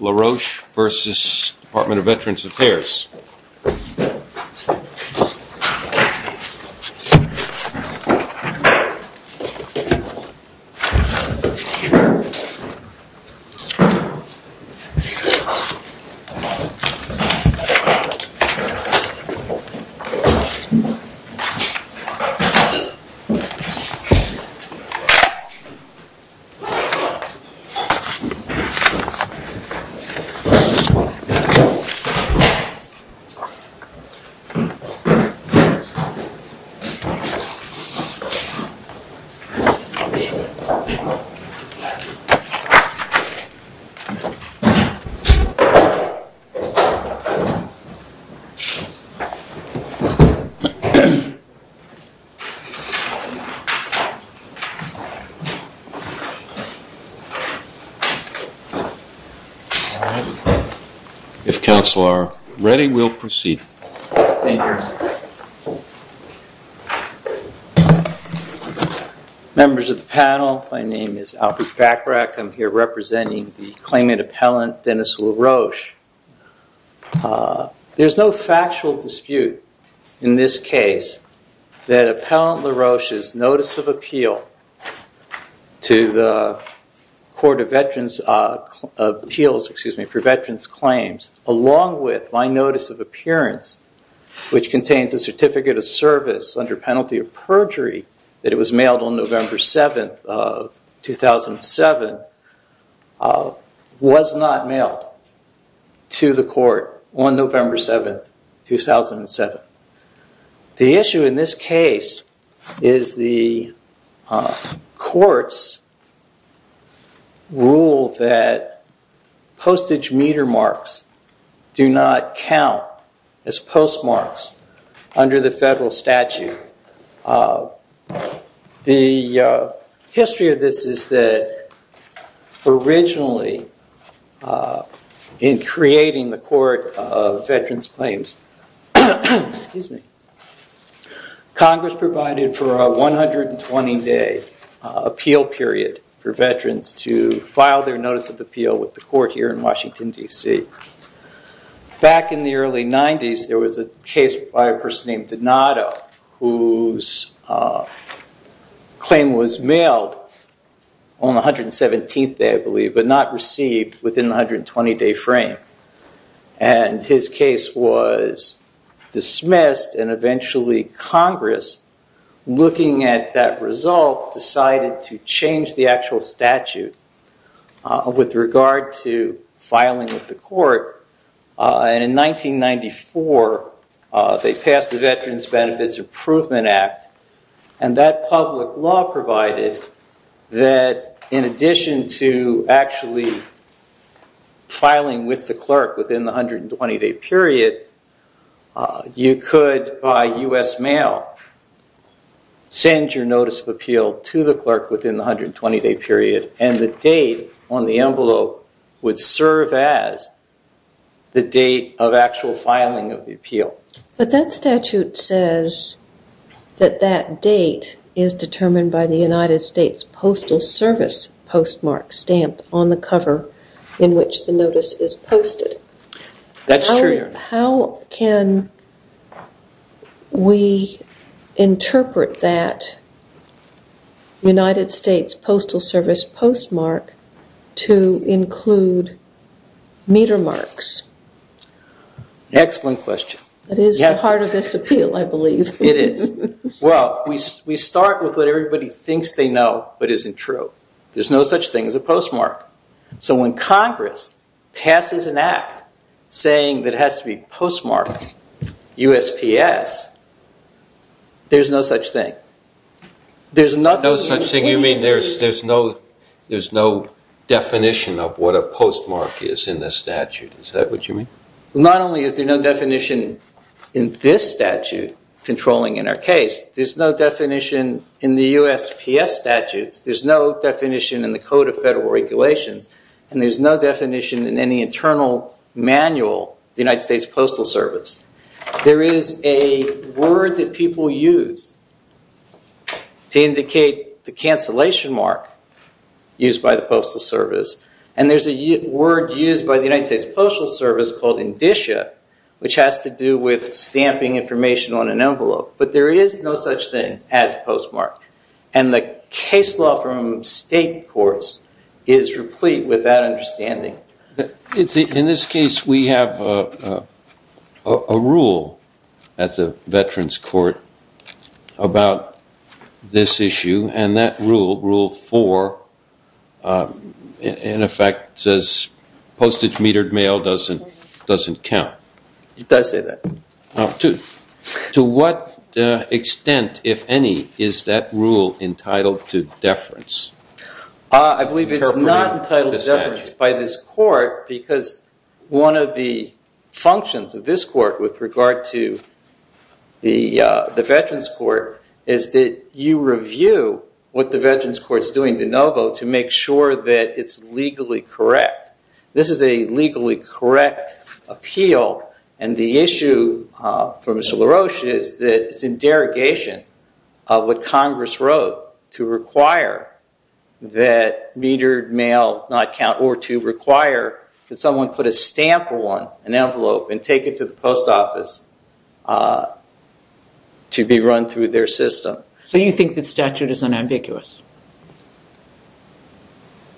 Laroche v. Department of Veterans Affairs Laroche v. Department of Veterans Affairs If counsel are ready, we'll proceed. Members of the panel, my name is Albert Bachrach, I'm here representing the claimant appellant Dennis Laroche. There's no factual dispute in this case that appellant Laroche's notice of appeal to the Department of Veterans Appeals for Veterans Claims, along with my notice of appearance, which contains a certificate of service under penalty of perjury that it was mailed on November 7, 2007, was not mailed to the court on November 7, 2007. The issue in this case is the court's rule that postage meter marks do not count as post marks under the federal statute. The history of this is that originally, in creating the Court of Veterans Claims, Congress provided for a 120-day appeal period for veterans to file their notice of appeal with the court here in Washington, D.C. Back in the early 90s, there was a case by a person named Donato whose claim was mailed on the 117th day, I believe, but not received within the 120-day frame. And his case was dismissed and eventually Congress, looking at that result, decided to change the actual statute with regard to filing with the court. And in 1994, they passed the Veterans Benefits Improvement Act, and that public law provided that in addition to actually filing with the clerk within the 120-day period, you could, by U.S. mail, send your notice of appeal to the clerk within the 120-day period and the date on the envelope would serve as the date of actual filing of the appeal. But that statute says that that date is determined by the United States Postal Service postmark stamped on the cover in which the notice is posted. That's true. How can we interpret that United States Postal Service postmark to include meter marks? Excellent question. That is the heart of this appeal, I believe. It is. Well, we start with what everybody thinks they know but isn't true. There's no such thing as a postmark. So when Congress passes an act saying that it has to be postmarked USPS, there's no such thing. No such thing? You mean there's no definition of what a postmark is in this statute? Is that what you mean? Not only is there no definition in this statute controlling in our case, there's no definition in the USPS statutes, there's no definition in the Code of Federal Regulations, and there's no definition in any internal manual of the United States Postal Service. There is a word that people use to indicate the cancellation mark used by the Postal Service and there's a word used by the United States Postal Service called indicia, which has to do with stamping information on an envelope. But there is no such thing as postmark. And the case law from state courts is replete with that understanding. In this case, we have a rule at the Veterans Court about this issue, and that rule, Rule 4, in effect says postage metered mail doesn't count. It does say that. To what extent, if any, is that rule entitled to deference? I believe it's not entitled to deference by this court because one of the functions of this court with regard to the Veterans Court is that you review what the Veterans Court's doing de novo to make sure that it's legally correct. This is a legally correct appeal, and the issue for Mr. LaRoche is that it's in derogation of what Congress wrote to require that metered mail not count or to require that someone put a stamp on an envelope and take it to the post office to be run through their system. So you think the statute is unambiguous?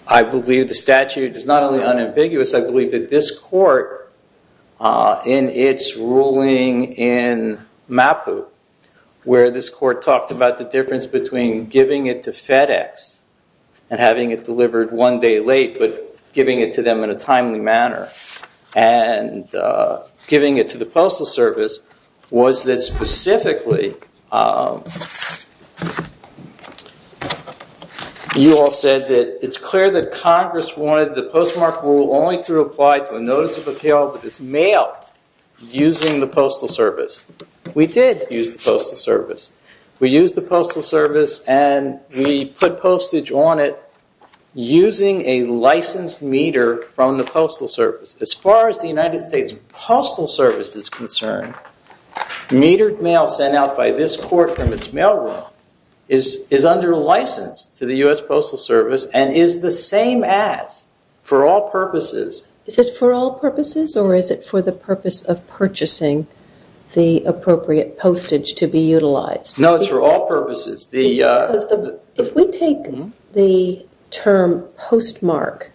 I believe the statute is not only unambiguous, I believe that this court, in its ruling in MAPU, where this court talked about the difference between giving it to FedEx and having it delivered one day late but giving it to them in a timely manner, and giving it to the Postal Service, was that specifically you all said that it's clear that Congress wanted the postmark rule only to apply to a notice of appeal that is mailed using the Postal Service. We did use the Postal Service. We used the Postal Service and we put postage on it using a licensed meter from the Postal Service. As far as the United States Postal Service is concerned, metered mail sent out by this court from its mailroom is under license to the U.S. Postal Service and is the same as for all purposes. Is it for all purposes or is it for the purpose of purchasing the appropriate postage to be utilized? No, it's for all purposes. If we take the term postmark,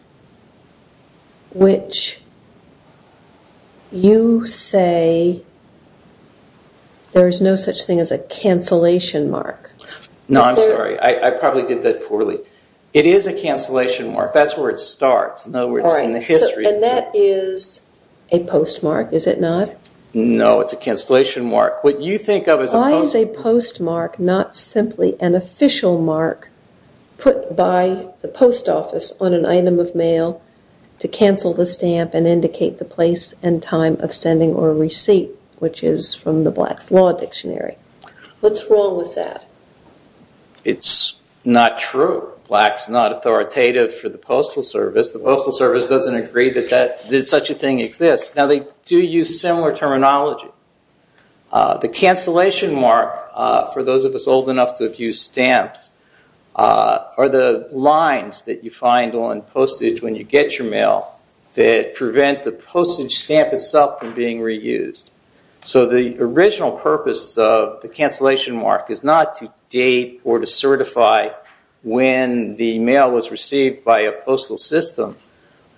which you say there is no such thing as a cancellation mark. No, I'm sorry. I probably did that poorly. It is a cancellation mark. That's where it starts. And that is a postmark, is it not? No, it's a cancellation mark. Why is a postmark not simply an official mark put by the post office on an item of mail to cancel the stamp and indicate the place and time of sending or receipt, which is from the Black's Law Dictionary? What's wrong with that? It's not true. Black's not authoritative for the Postal Service. The Postal Service doesn't agree that such a thing exists. Now, they do use similar terminology. The cancellation mark, for those of us old enough to have used stamps, are the lines that you find on postage when you get your mail that prevent the postage stamp itself from being reused. So the original purpose of the cancellation mark is not to date or to certify when the mail was received by a postal system,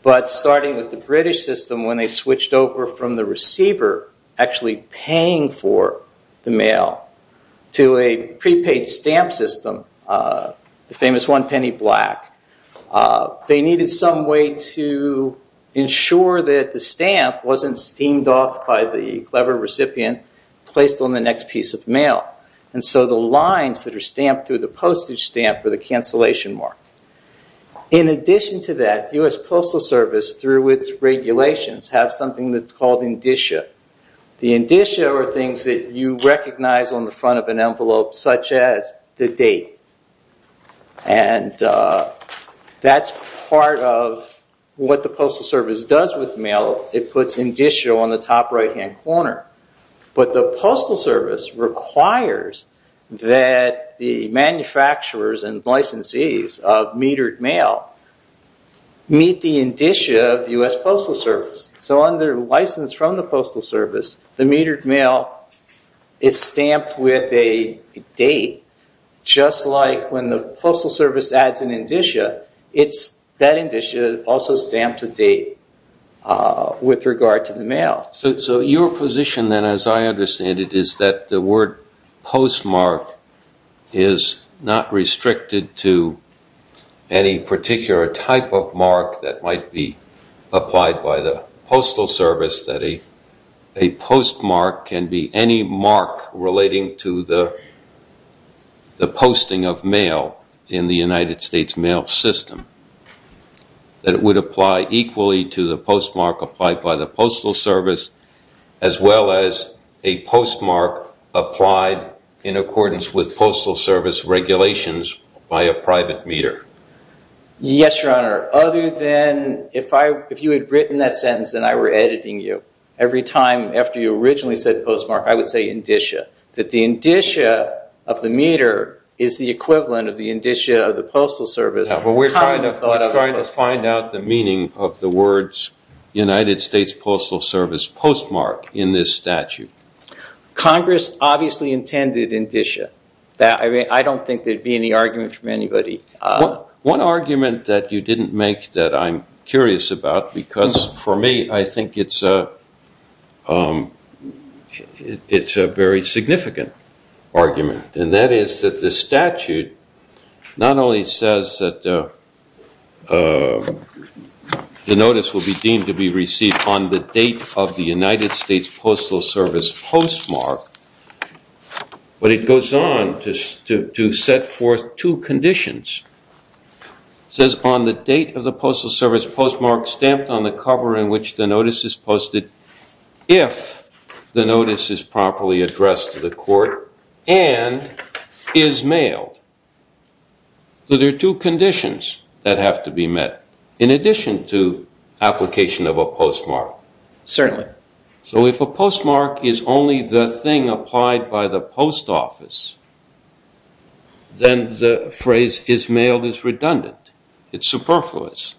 but starting with the British system, when they switched over from the receiver actually paying for the mail to a prepaid stamp system, the famous one-penny black, they needed some way to ensure that the stamp wasn't steamed off by the clever recipient and placed on the next piece of mail. And so the lines that are stamped through the postage stamp were the cancellation mark. In addition to that, the U.S. Postal Service, through its regulations, has something that's called indicia. The indicia are things that you recognize on the front of an envelope, such as the date. And that's part of what the Postal Service does with mail. It puts indicia on the top right-hand corner. But the Postal Service requires that the manufacturers and licensees of metered mail meet the indicia of the U.S. Postal Service. So under license from the Postal Service, the metered mail is stamped with a date, just like when the Postal Service adds an indicia, that indicia is also stamped to date with regard to the mail. So your position then, as I understand it, is that the word postmark is not restricted to any particular type of mark that might be applied by the Postal Service, that a postmark can be any mark relating to the posting of mail in the United States mail system, that it would apply equally to the postmark applied by the Postal Service as well as a postmark applied in accordance with Postal Service regulations by a private meter. Yes, Your Honor. Other than if you had written that sentence and I were editing you, every time after you originally said postmark, I would say indicia, that the indicia of the meter is the equivalent of the indicia of the Postal Service. We're trying to find out the meaning of the words United States Postal Service postmark in this statute. Congress obviously intended indicia. I don't think there would be any argument from anybody. One argument that you didn't make that I'm curious about, because for me I think it's a very significant argument, and that is that the statute not only says that the notice will be deemed to be received on the date of the United States Postal Service postmark, but it goes on to set forth two conditions. It says on the date of the Postal Service postmark stamped on the cover in which the notice is posted, if the notice is properly addressed to the court and is mailed. So there are two conditions that have to be met in addition to application of a postmark. Certainly. So if a postmark is only the thing applied by the post office, then the phrase is mailed is redundant. It's superfluous.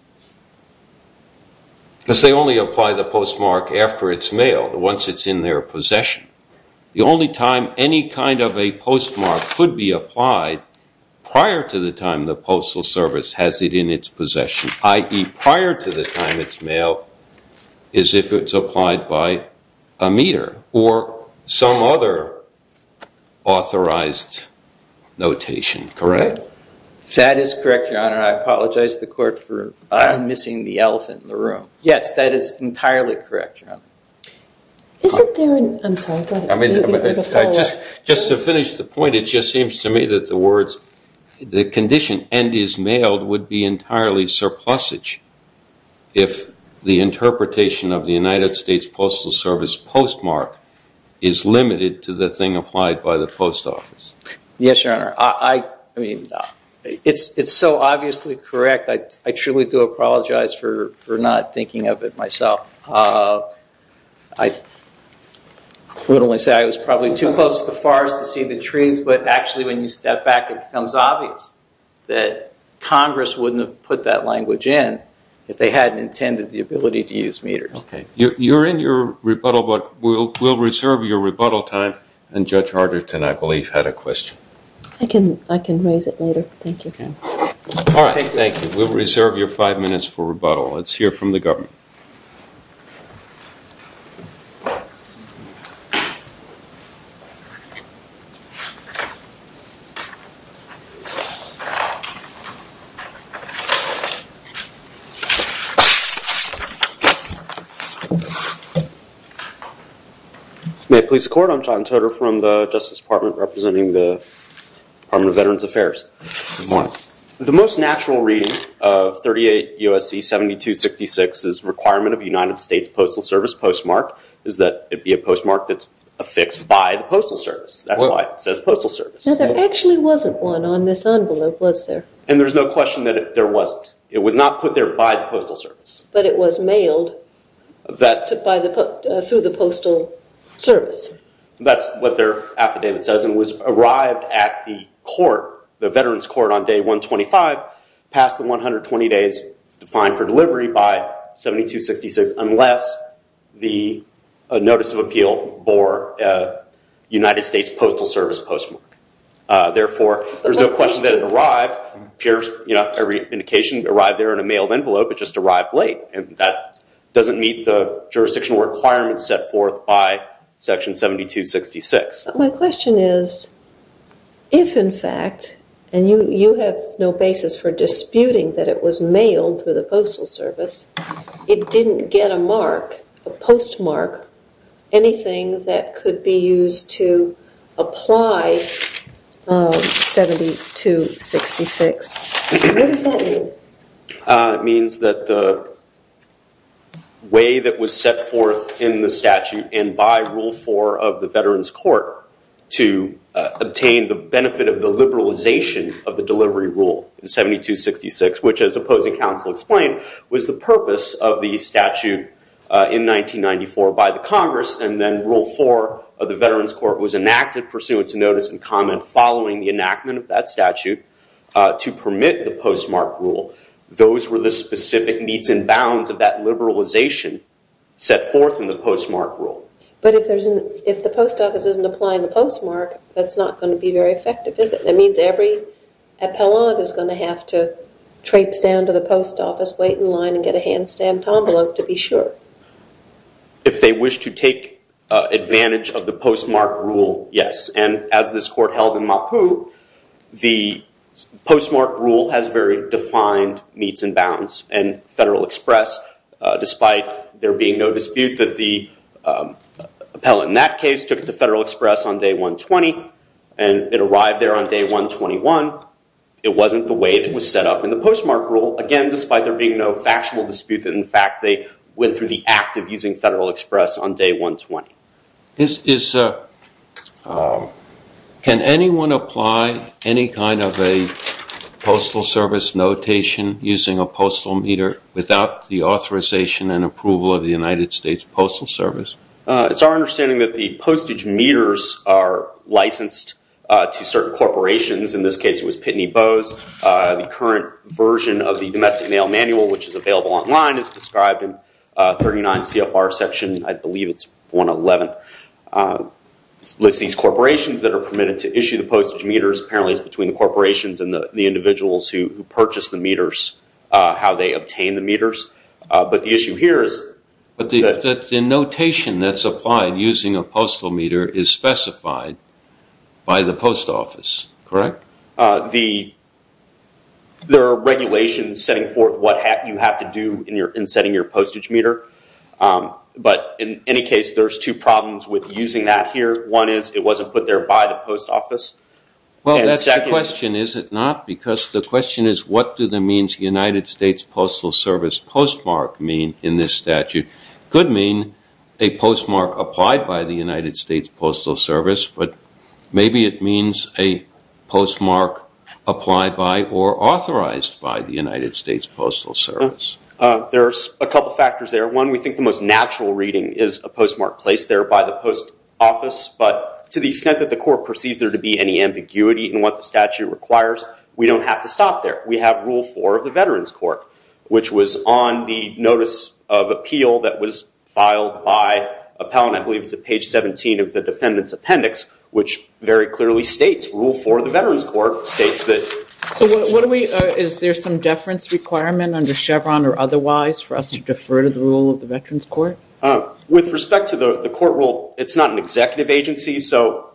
Because they only apply the postmark after it's mailed, once it's in their possession. The only time any kind of a postmark could be applied prior to the time the Postal Service has it in its possession, i.e. prior to the time it's mailed, is if it's applied by a meter or some other authorized notation. Correct? That is correct, Your Honor. I apologize to the court for missing the elephant in the room. Yes, that is entirely correct, Your Honor. Isn't there an – I'm sorry, go ahead. Just to finish the point, it just seems to me that the words, the condition and is mailed would be entirely surplusage if the interpretation of the United States Postal Service postmark is limited to the thing applied by the post office. Yes, Your Honor. I mean, it's so obviously correct. I truly do apologize for not thinking of it myself. I would only say I was probably too close to the forest to see the trees, but actually when you step back it becomes obvious that Congress wouldn't have put that language in if they hadn't intended the ability to use meters. Okay. You're in your rebuttal, but we'll reserve your rebuttal time. And Judge Harderton, I believe, had a question. I can raise it later. Thank you. All right. Thank you. We'll reserve your five minutes for rebuttal. Let's hear from the government. May it please the Court, I'm John Toder from the Justice Department representing the Department of Veterans Affairs. Good morning. The most natural reading of 38 U.S.C. 7266's requirement of United States Postal Service postmark is that it be a postmark that's affixed by the Postal Service. That's why it says Postal Service. There actually wasn't one on this envelope, was there? And there's no question that there wasn't. It was not put there by the Postal Service. But it was mailed through the Postal Service. That's what their affidavit says. It was arrived at the court, the Veterans Court on Day 125, passed the 120 days defined for delivery by 7266 unless the notice of appeal bore United States Postal Service postmark. Therefore, there's no question that it arrived. Not every indication arrived there in a mailed envelope, it just arrived late. And that doesn't meet the jurisdictional requirements set forth by Section 7266. My question is, if in fact, and you have no basis for disputing that it was mailed through the Postal Service, it didn't get a mark, a postmark, anything that could be used to apply 7266. What does that mean? It means that the way that was set forth in the statute and by Rule 4 of the Veterans Court to obtain the benefit of the liberalization of the delivery rule in 7266, which as opposing counsel explained, was the purpose of the statute in 1994 by the Congress and then Rule 4 of the Veterans Court was enacted pursuant to notice and comment following the enactment of that statute to permit the postmark rule. Those were the specific needs and bounds of that liberalization set forth in the postmark rule. But if the post office isn't applying the postmark, that's not going to be very effective, is it? That means every appellant is going to have to traipse down to the post office, wait in line, and get a hand-stamped envelope to be sure. If they wish to take advantage of the postmark rule, yes. And as this court held in Mapu, the postmark rule has very defined meets and bounds. And Federal Express, despite there being no dispute that the appellant in that case took it to Federal Express on day 120 and it arrived there on day 121, it wasn't the way it was set up in the postmark rule, again, despite there being no factual dispute that in fact they went through the act of using Federal Express on day 120. Can anyone apply any kind of a postal service notation using a postal meter without the authorization and approval of the United States Postal Service? It's our understanding that the postage meters are licensed to certain corporations. In this case it was Pitney Bowes. The current version of the Domestic Mail Manual, which is available online, is described in 39 CFR section, I believe it's 111, lists these corporations that are permitted to issue the postage meters. Apparently it's between the corporations and the individuals who purchase the meters, how they obtain the meters. But the issue here is... But the notation that's applied using a postal meter is specified by the post office, correct? There are regulations setting forth what you have to do in setting your postage meter. But in any case, there's two problems with using that here. One is it wasn't put there by the post office. Well, that's the question, is it not? Because the question is what do the means United States Postal Service postmark mean in this statute? It could mean a postmark applied by the United States Postal Service, but maybe it means a postmark applied by or authorized by the United States Postal Service. There's a couple of factors there. One, we think the most natural reading is a postmark placed there by the post office. But to the extent that the court perceives there to be any ambiguity in what the statute requires, we don't have to stop there. We have Rule 4 of the Veterans Court, which was on the notice of appeal that was filed by Appell, and I believe it's at page 17 of the defendant's appendix, which very clearly states, Rule 4 of the Veterans Court states that... So is there some deference requirement under Chevron or otherwise for us to defer to the Rule of the Veterans Court? With respect to the court rule, it's not an executive agency, so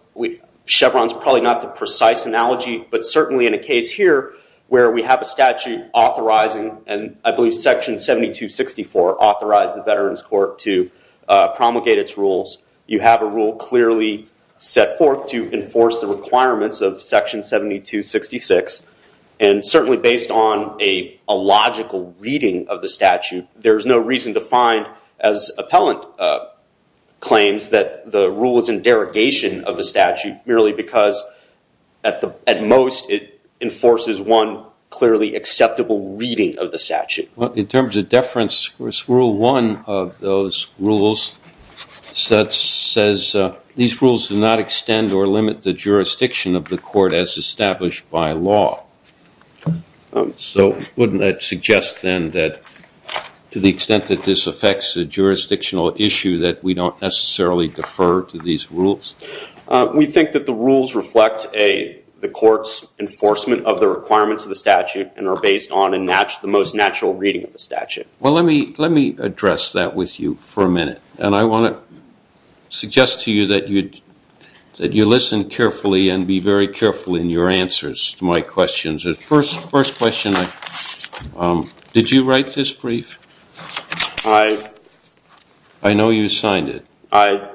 Chevron's probably not the precise analogy, but certainly in a case here where we have a statute authorizing, and I believe Section 7264 authorized the Veterans Court to promulgate its rules, you have a rule clearly set forth to enforce the requirements of Section 7266, and certainly based on a logical reading of the statute, there is no reason to find, as Appellant claims, that the rule is in derogation of the statute, merely because at most it enforces one clearly acceptable reading of the statute. In terms of deference, Rule 1 of those rules says, these rules do not extend or limit the jurisdiction of the court as established by law. So wouldn't that suggest, then, that to the extent that this affects the jurisdictional issue, that we don't necessarily defer to these rules? We think that the rules reflect the court's enforcement of the requirements of the statute and are based on the most natural reading of the statute. Well, let me address that with you for a minute, and I want to suggest to you that you listen carefully and be very careful in your answers to my questions. The first question, did you write this brief? I know you signed it. I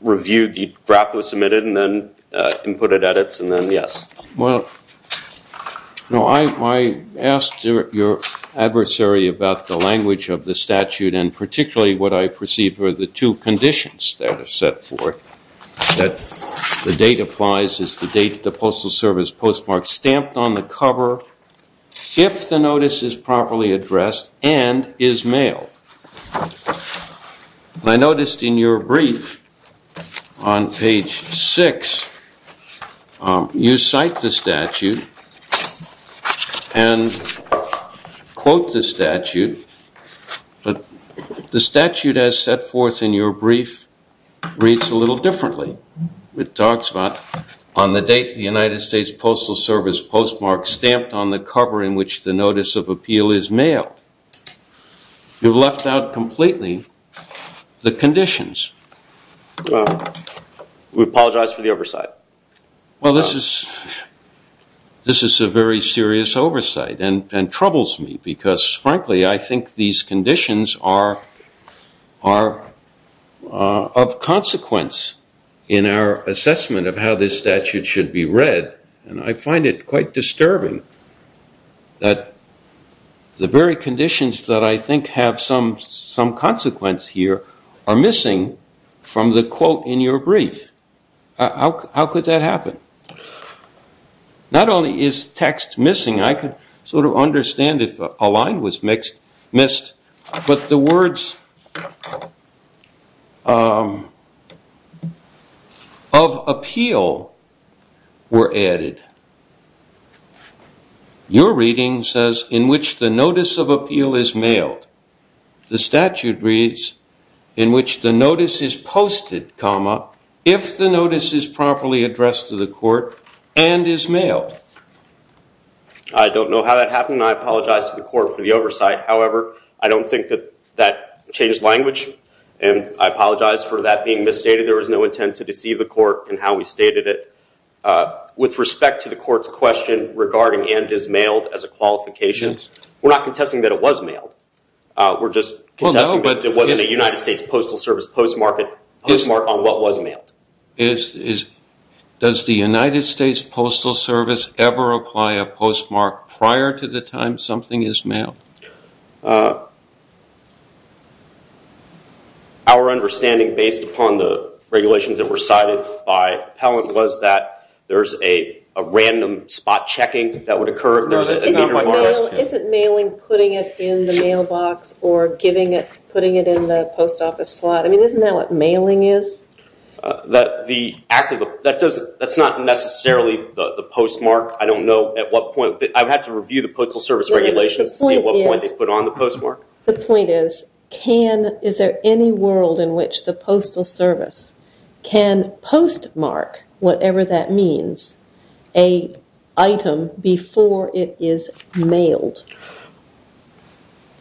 reviewed the draft that was submitted and then inputted edits and then yes. Well, I asked your adversary about the language of the statute, and particularly what I perceived were the two conditions that are set forth, that the date applies is the date the Postal Service postmark is stamped on the cover, if the notice is properly addressed and is mailed. I noticed in your brief on page 6, you cite the statute and quote the statute, but the statute as set forth in your brief reads a little differently. It talks about on the date the United States Postal Service postmark stamped on the cover in which the notice of appeal is mailed. You've left out completely the conditions. We apologize for the oversight. Well, this is a very serious oversight and troubles me because, frankly, I think these conditions are of consequence in our assessment of how this statute should be read, and I find it quite disturbing that the very conditions that I think have some consequence here are missing from the quote in your brief. How could that happen? Not only is text missing, I can sort of understand if a line was missed, but the words of appeal were added. Your reading says in which the notice of appeal is mailed. The statute reads in which the notice is posted, if the notice is properly addressed to the court and is mailed. I don't know how that happened. I apologize to the court for the oversight. However, I don't think that that changed language, and I apologize for that being misstated. There was no intent to deceive the court in how we stated it. With respect to the court's question regarding and is mailed as a qualification, we're not contesting that it was mailed. We're just contesting that it wasn't a United States Postal Service postmark on what was mailed. Does the United States Postal Service ever apply a postmark prior to the time something is mailed? Our understanding based upon the regulations that were cited by Pellant was that there's a random spot checking that would occur. Isn't mailing putting it in the mailbox or putting it in the post office slot? Isn't that what mailing is? That's not necessarily the postmark. I don't know at what point. I would have to review the Postal Service regulations to see at what point they put on the postmark. The point is, is there any world in which the Postal Service can postmark, whatever that means, an item before it is mailed?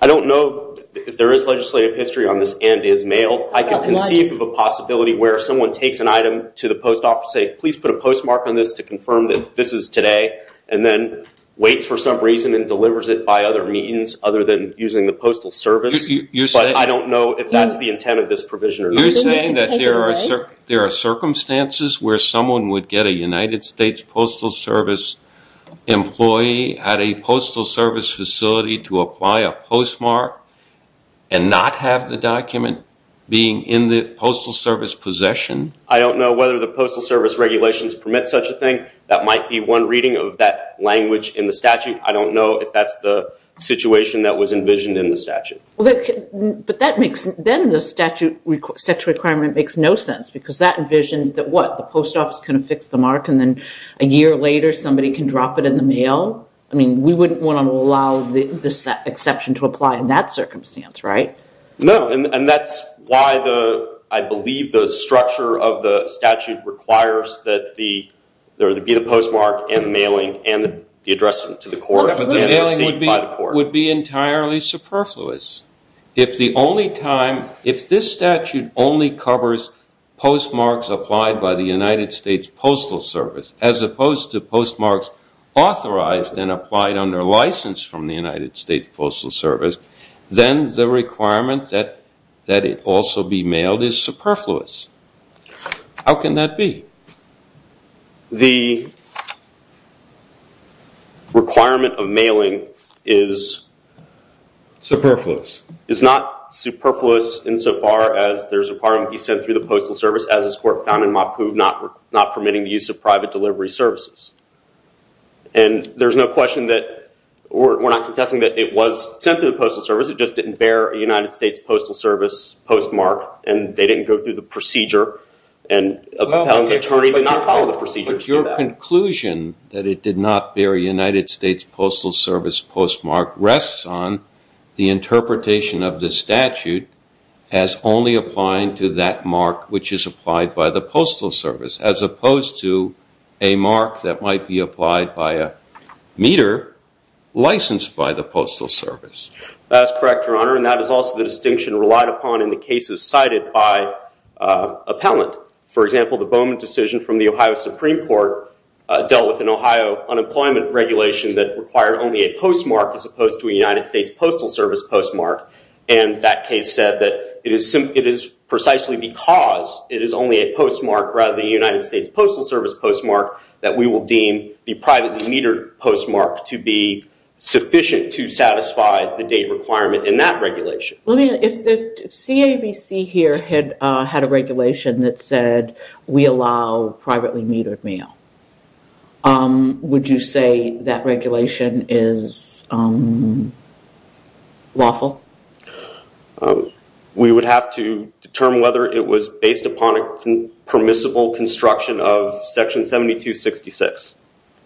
I don't know if there is legislative history on this and is mailed. I can conceive of a possibility where someone takes an item to the post office and says, please put a postmark on this to confirm that this is today. And then waits for some reason and delivers it by other means other than using the Postal Service. But I don't know if that's the intent of this provision or not. You're saying that there are circumstances where someone would get a United States Postal Service employee at a Postal Service facility to apply a postmark and not have the document being in the Postal Service possession? I don't know whether the Postal Service regulations permit such a thing. That might be one reading of that language in the statute. I don't know if that's the situation that was envisioned in the statute. Then the statute requirement makes no sense because that envisioned that what, the post office can fix the mark and then a year later somebody can drop it in the mail? I mean, we wouldn't want to allow this exception to apply in that circumstance, right? No, and that's why I believe the structure of the statute requires that there be the postmark and the mailing and the address to the court. The mailing would be entirely superfluous. If the only time, if this statute only covers postmarks applied by the United States Postal Service as opposed to postmarks authorized and applied under license from the United States Postal Service, then the requirement that it also be mailed is superfluous. How can that be? The requirement of mailing is not superfluous insofar as there's a requirement to be sent through the Postal Service as is court found in MAPU not permitting the use of private delivery services. And there's no question that, we're not contesting that it was sent through the Postal Service, it just didn't bear a United States Postal Service postmark and they didn't go through the procedure and an attorney did not follow the procedure to do that. But your conclusion that it did not bear a United States Postal Service postmark rests on the interpretation of the statute as only applying to that mark which is applied by the Postal Service as opposed to a mark that might be applied by a meter licensed by the Postal Service. That is correct, Your Honor, and that is also the distinction relied upon in the cases cited by appellant. For example, the Bowman decision from the Ohio Supreme Court dealt with an Ohio unemployment regulation that required only a postmark as opposed to a United States Postal Service postmark and that case said that it is precisely because it is only a postmark rather than a United States Postal Service postmark that we will deem the privately metered postmark to be sufficient to satisfy the date requirement in that regulation. If the CAVC here had a regulation that said we allow privately metered mail, would you say that regulation is lawful? We would have to determine whether it was based upon a permissible construction of section 7266.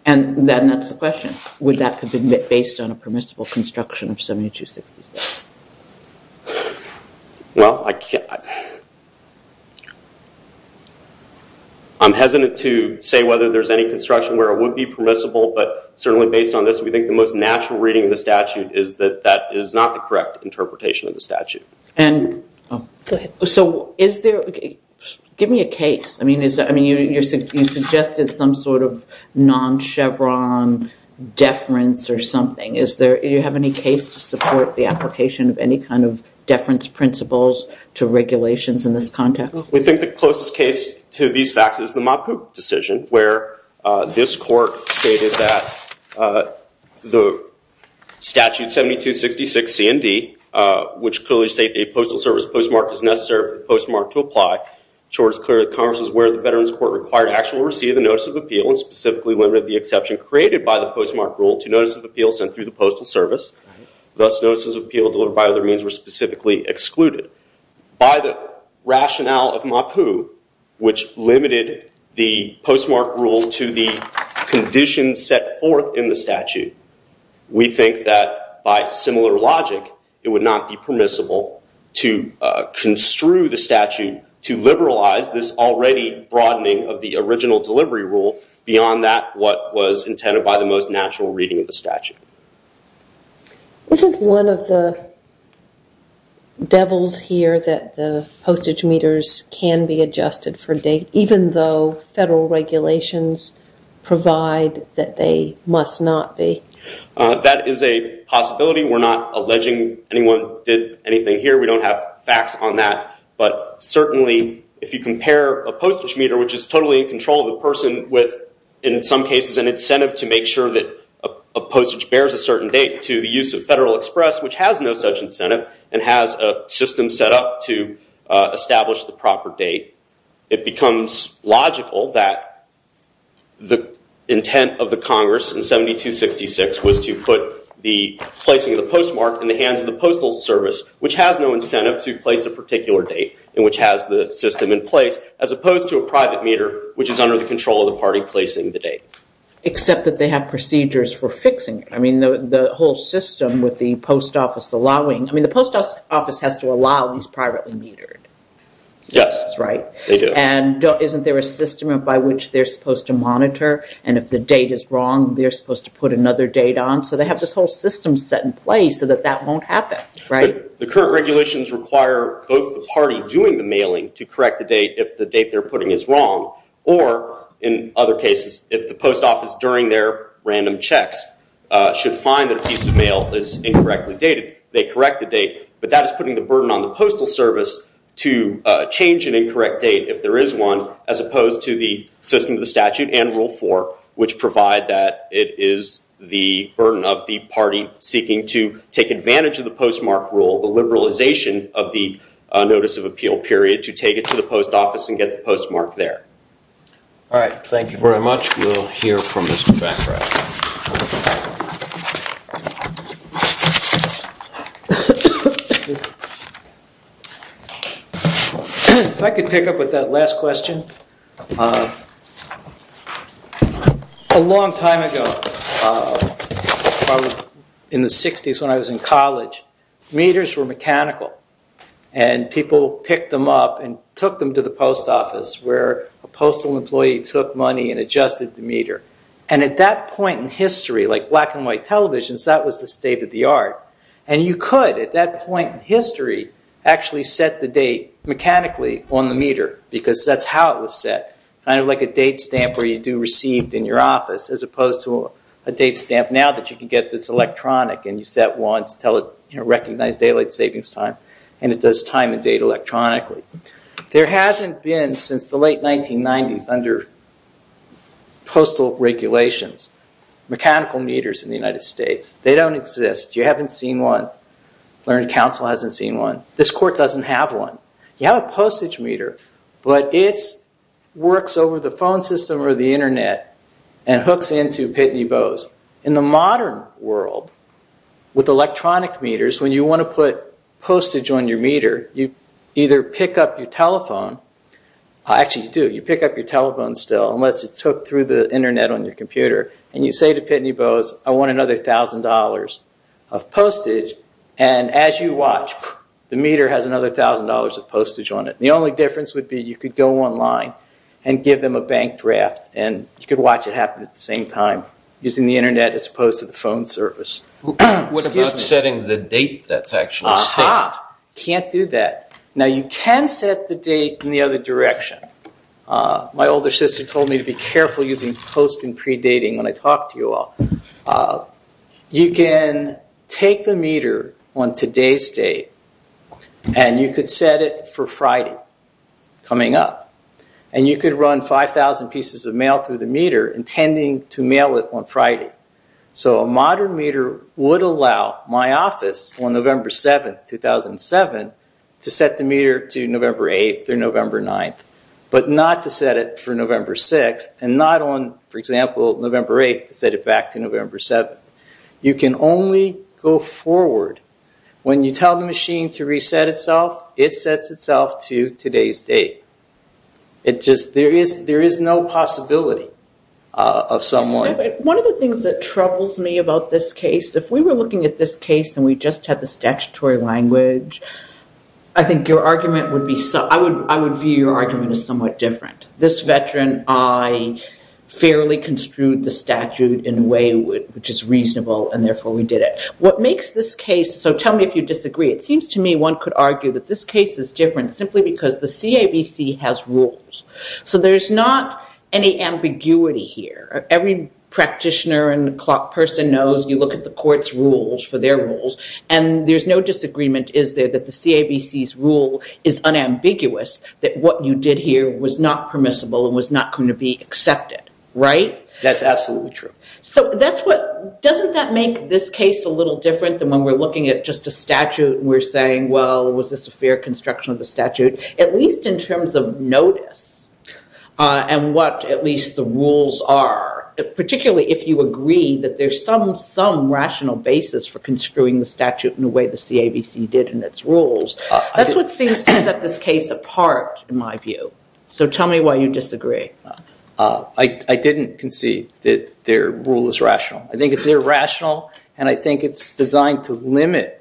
Then that's the question. Would that have been based on a permissible construction of 7266? Well, I'm hesitant to say whether there's any construction where it would be permissible, but certainly based on this we think the most natural reading of the statute is that that is not the correct interpretation of the statute. Give me a case. You suggested some sort of non-chevron deference or something. Do you have any case to support the application of any kind of deference principles to regulations in this context? We think the closest case to these facts is the Mott Poop decision where this court stated that the statute 7266 CND which clearly states that a postal service postmark is necessary for the postmark to apply. It's clear that the Congress was aware that the Veterans Court required actual receipt of the notice of appeal and specifically limited the exception created by the postmark rule to notice of appeal sent through the postal service. Thus, notices of appeal delivered by other means were specifically excluded. By the rationale of Mott Poop, which limited the postmark rule to the conditions set forth in the statute, we think that by similar logic it would not be permissible to construe the statute to liberalize this already broadening of the original delivery rule beyond that what was intended by the most natural reading of the statute. Isn't one of the devils here that the postage meters can be adjusted for date, even though federal regulations provide that they must not be? That is a possibility. We're not alleging anyone did anything here. We don't have facts on that. But certainly if you compare a postage meter, which is totally in control of the person, with in some cases an incentive to make sure that a postage bears a certain date to the use of Federal Express, which has no such incentive and has a system set up to establish the proper date, it becomes logical that the intent of the Congress in 7266 was to put the placing of the postmark in the hands of the postal service, which has no incentive to place a particular date and which has the system in place, as opposed to a private meter, which is under the control of the party placing the date. Except that they have procedures for fixing it. I mean, the whole system with the post office allowing... I mean, the post office has to allow these privately metered. Yes. That's right. They do. And isn't there a system by which they're supposed to monitor? And if the date is wrong, they're supposed to put another date on? So they have this whole system set in place so that that won't happen, right? The current regulations require both the party doing the mailing to correct the date if the date they're putting is wrong, or in other cases, if the post office during their random checks should find that a piece of mail is incorrectly dated, they correct the date. But that is putting the burden on the postal service to change an incorrect date if there is one, as opposed to the system of the statute and Rule 4, which provide that it is the burden of the party seeking to take advantage of the postmark rule, the liberalization of the notice of appeal period, to take it to the post office and get the postmark there. All right. Thank you very much. We'll hear from Mr. Baccarat. If I could pick up with that last question. A long time ago, probably in the 60s when I was in college, meters were mechanical, and people picked them up and took them to the post office where a postal employee took money and adjusted the meter. And at that point in history, like black and white televisions, that was the state of the art. And you could, at that point in history, actually set the date mechanically on the meter because that's how it was set, kind of like a date stamp where you do received in your office, as opposed to a date stamp now that you can get that's electronic and you set once, recognize daylight savings time, and it does time and date electronically. There hasn't been, since the late 1990s, under postal regulations, mechanical meters in the United States. They don't exist. You haven't seen one. Learned Counsel hasn't seen one. This court doesn't have one. You have a postage meter, but it works over the phone system or the Internet and hooks into Pitney Bowes. In the modern world, with electronic meters, when you want to put postage on your meter, you either pick up your telephone. Actually, you do. You pick up your telephone still, unless it's hooked through the Internet on your computer, and you say to Pitney Bowes, I want another $1,000 of postage. As you watch, the meter has another $1,000 of postage on it. The only difference would be you could go online and give them a bank draft, and you could watch it happen at the same time using the Internet as opposed to the phone service. What about setting the date that's actually set? Can't do that. Now, you can set the date in the other direction. My older sister told me to be careful using post and predating when I talk to you all. You can take the meter on today's date, and you could set it for Friday coming up, and you could run 5,000 pieces of mail through the meter intending to mail it on Friday. So a modern meter would allow my office on November 7, 2007, to set the meter to November 8 or November 9, but not to set it for November 6 and not on, for example, November 8 to set it back to November 7. You can only go forward. When you tell the machine to reset itself, it sets itself to today's date. There is no possibility of someone... One of the things that troubles me about this case, if we were looking at this case and we just had the statutory language, I would view your argument as somewhat different. This veteran, I fairly construed the statute in a way which is reasonable, and therefore we did it. What makes this case... So tell me if you disagree. It seems to me one could argue that this case is different simply because the CAVC has rules. So there's not any ambiguity here. Every practitioner and clock person knows you look at the court's rules for their rules, and there's no disagreement, is there, that the CAVC's rule is unambiguous, that what you did here was not permissible and was not going to be accepted, right? That's absolutely true. So doesn't that make this case a little different than when we're looking at just a statute and we're saying, well, was this a fair construction of the statute, at least in terms of notice and what at least the rules are, particularly if you agree that there's some rational basis for construing the statute in the way the CAVC did in its rules. That's what seems to set this case apart, in my view. So tell me why you disagree. I didn't concede that their rule is rational. I think it's irrational, and I think it's designed to limit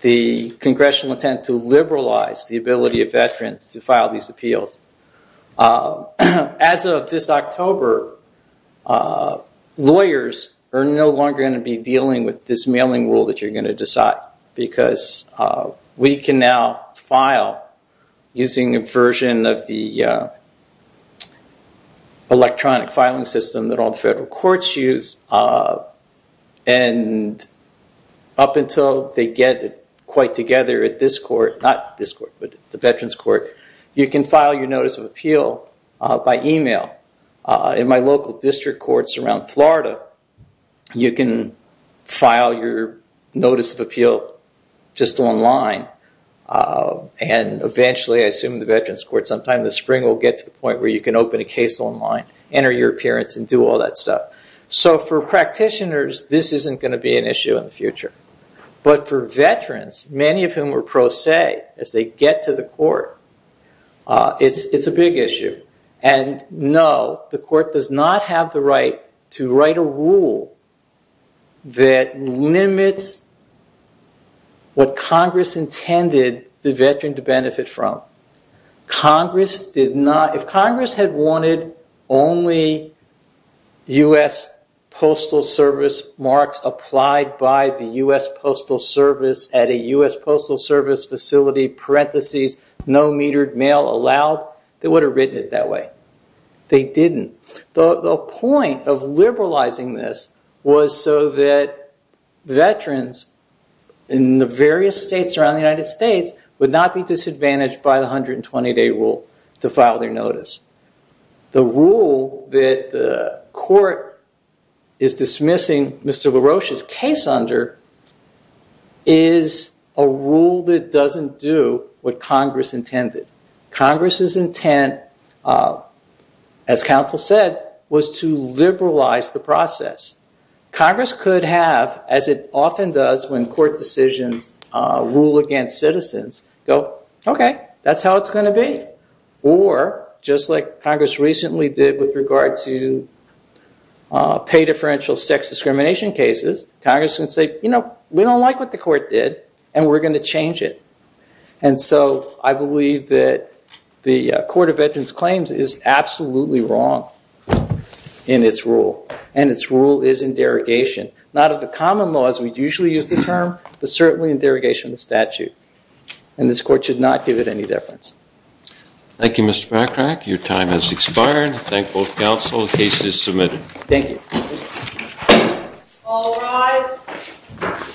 the congressional intent to liberalize the ability of veterans to file these appeals. As of this October, lawyers are no longer going to be dealing with this mailing rule that you're going to decide because we can now file using a version of the electronic filing system that all the federal courts use, and up until they get it quite together at this court, not this court, but the veterans court, you can file your notice of appeal by email. In my local district courts around Florida, you can file your notice of appeal just online, and eventually, I assume the veterans court sometime this spring will get to the point where you can open a case online, enter your appearance, and do all that stuff. So for practitioners, this isn't going to be an issue in the future, but for veterans, many of whom are pro se as they get to the court, it's a big issue. And no, the court does not have the right to write a rule that limits what Congress intended the veteran to benefit from. If Congress had wanted only U.S. Postal Service marks applied by the U.S. Postal Service at a U.S. Postal Service facility, parentheses, no metered mail allowed, they would have written it that way. They didn't. The point of liberalizing this was so that veterans in the various states around the United States would not be disadvantaged by the 120-day rule to file their notice. The rule that the court is dismissing Mr. LaRoche's case under is a rule that doesn't do what Congress intended. Congress's intent, as counsel said, was to liberalize the process. Congress could have, as it often does when court decisions rule against citizens, go, OK, that's how it's going to be. Or, just like Congress recently did with regard to pay differential sex discrimination cases, Congress can say, you know, we don't like what the court did, and we're going to change it. And so I believe that the Court of Veterans Claims is absolutely wrong in its rule. And its rule is in derogation. Not of the common laws we usually use the term, but certainly in derogation of the statute. And this court should not give it any deference. Thank you, Mr. MacRack. Your time has expired. Thank both counsel. The case is submitted. Thank you. All rise.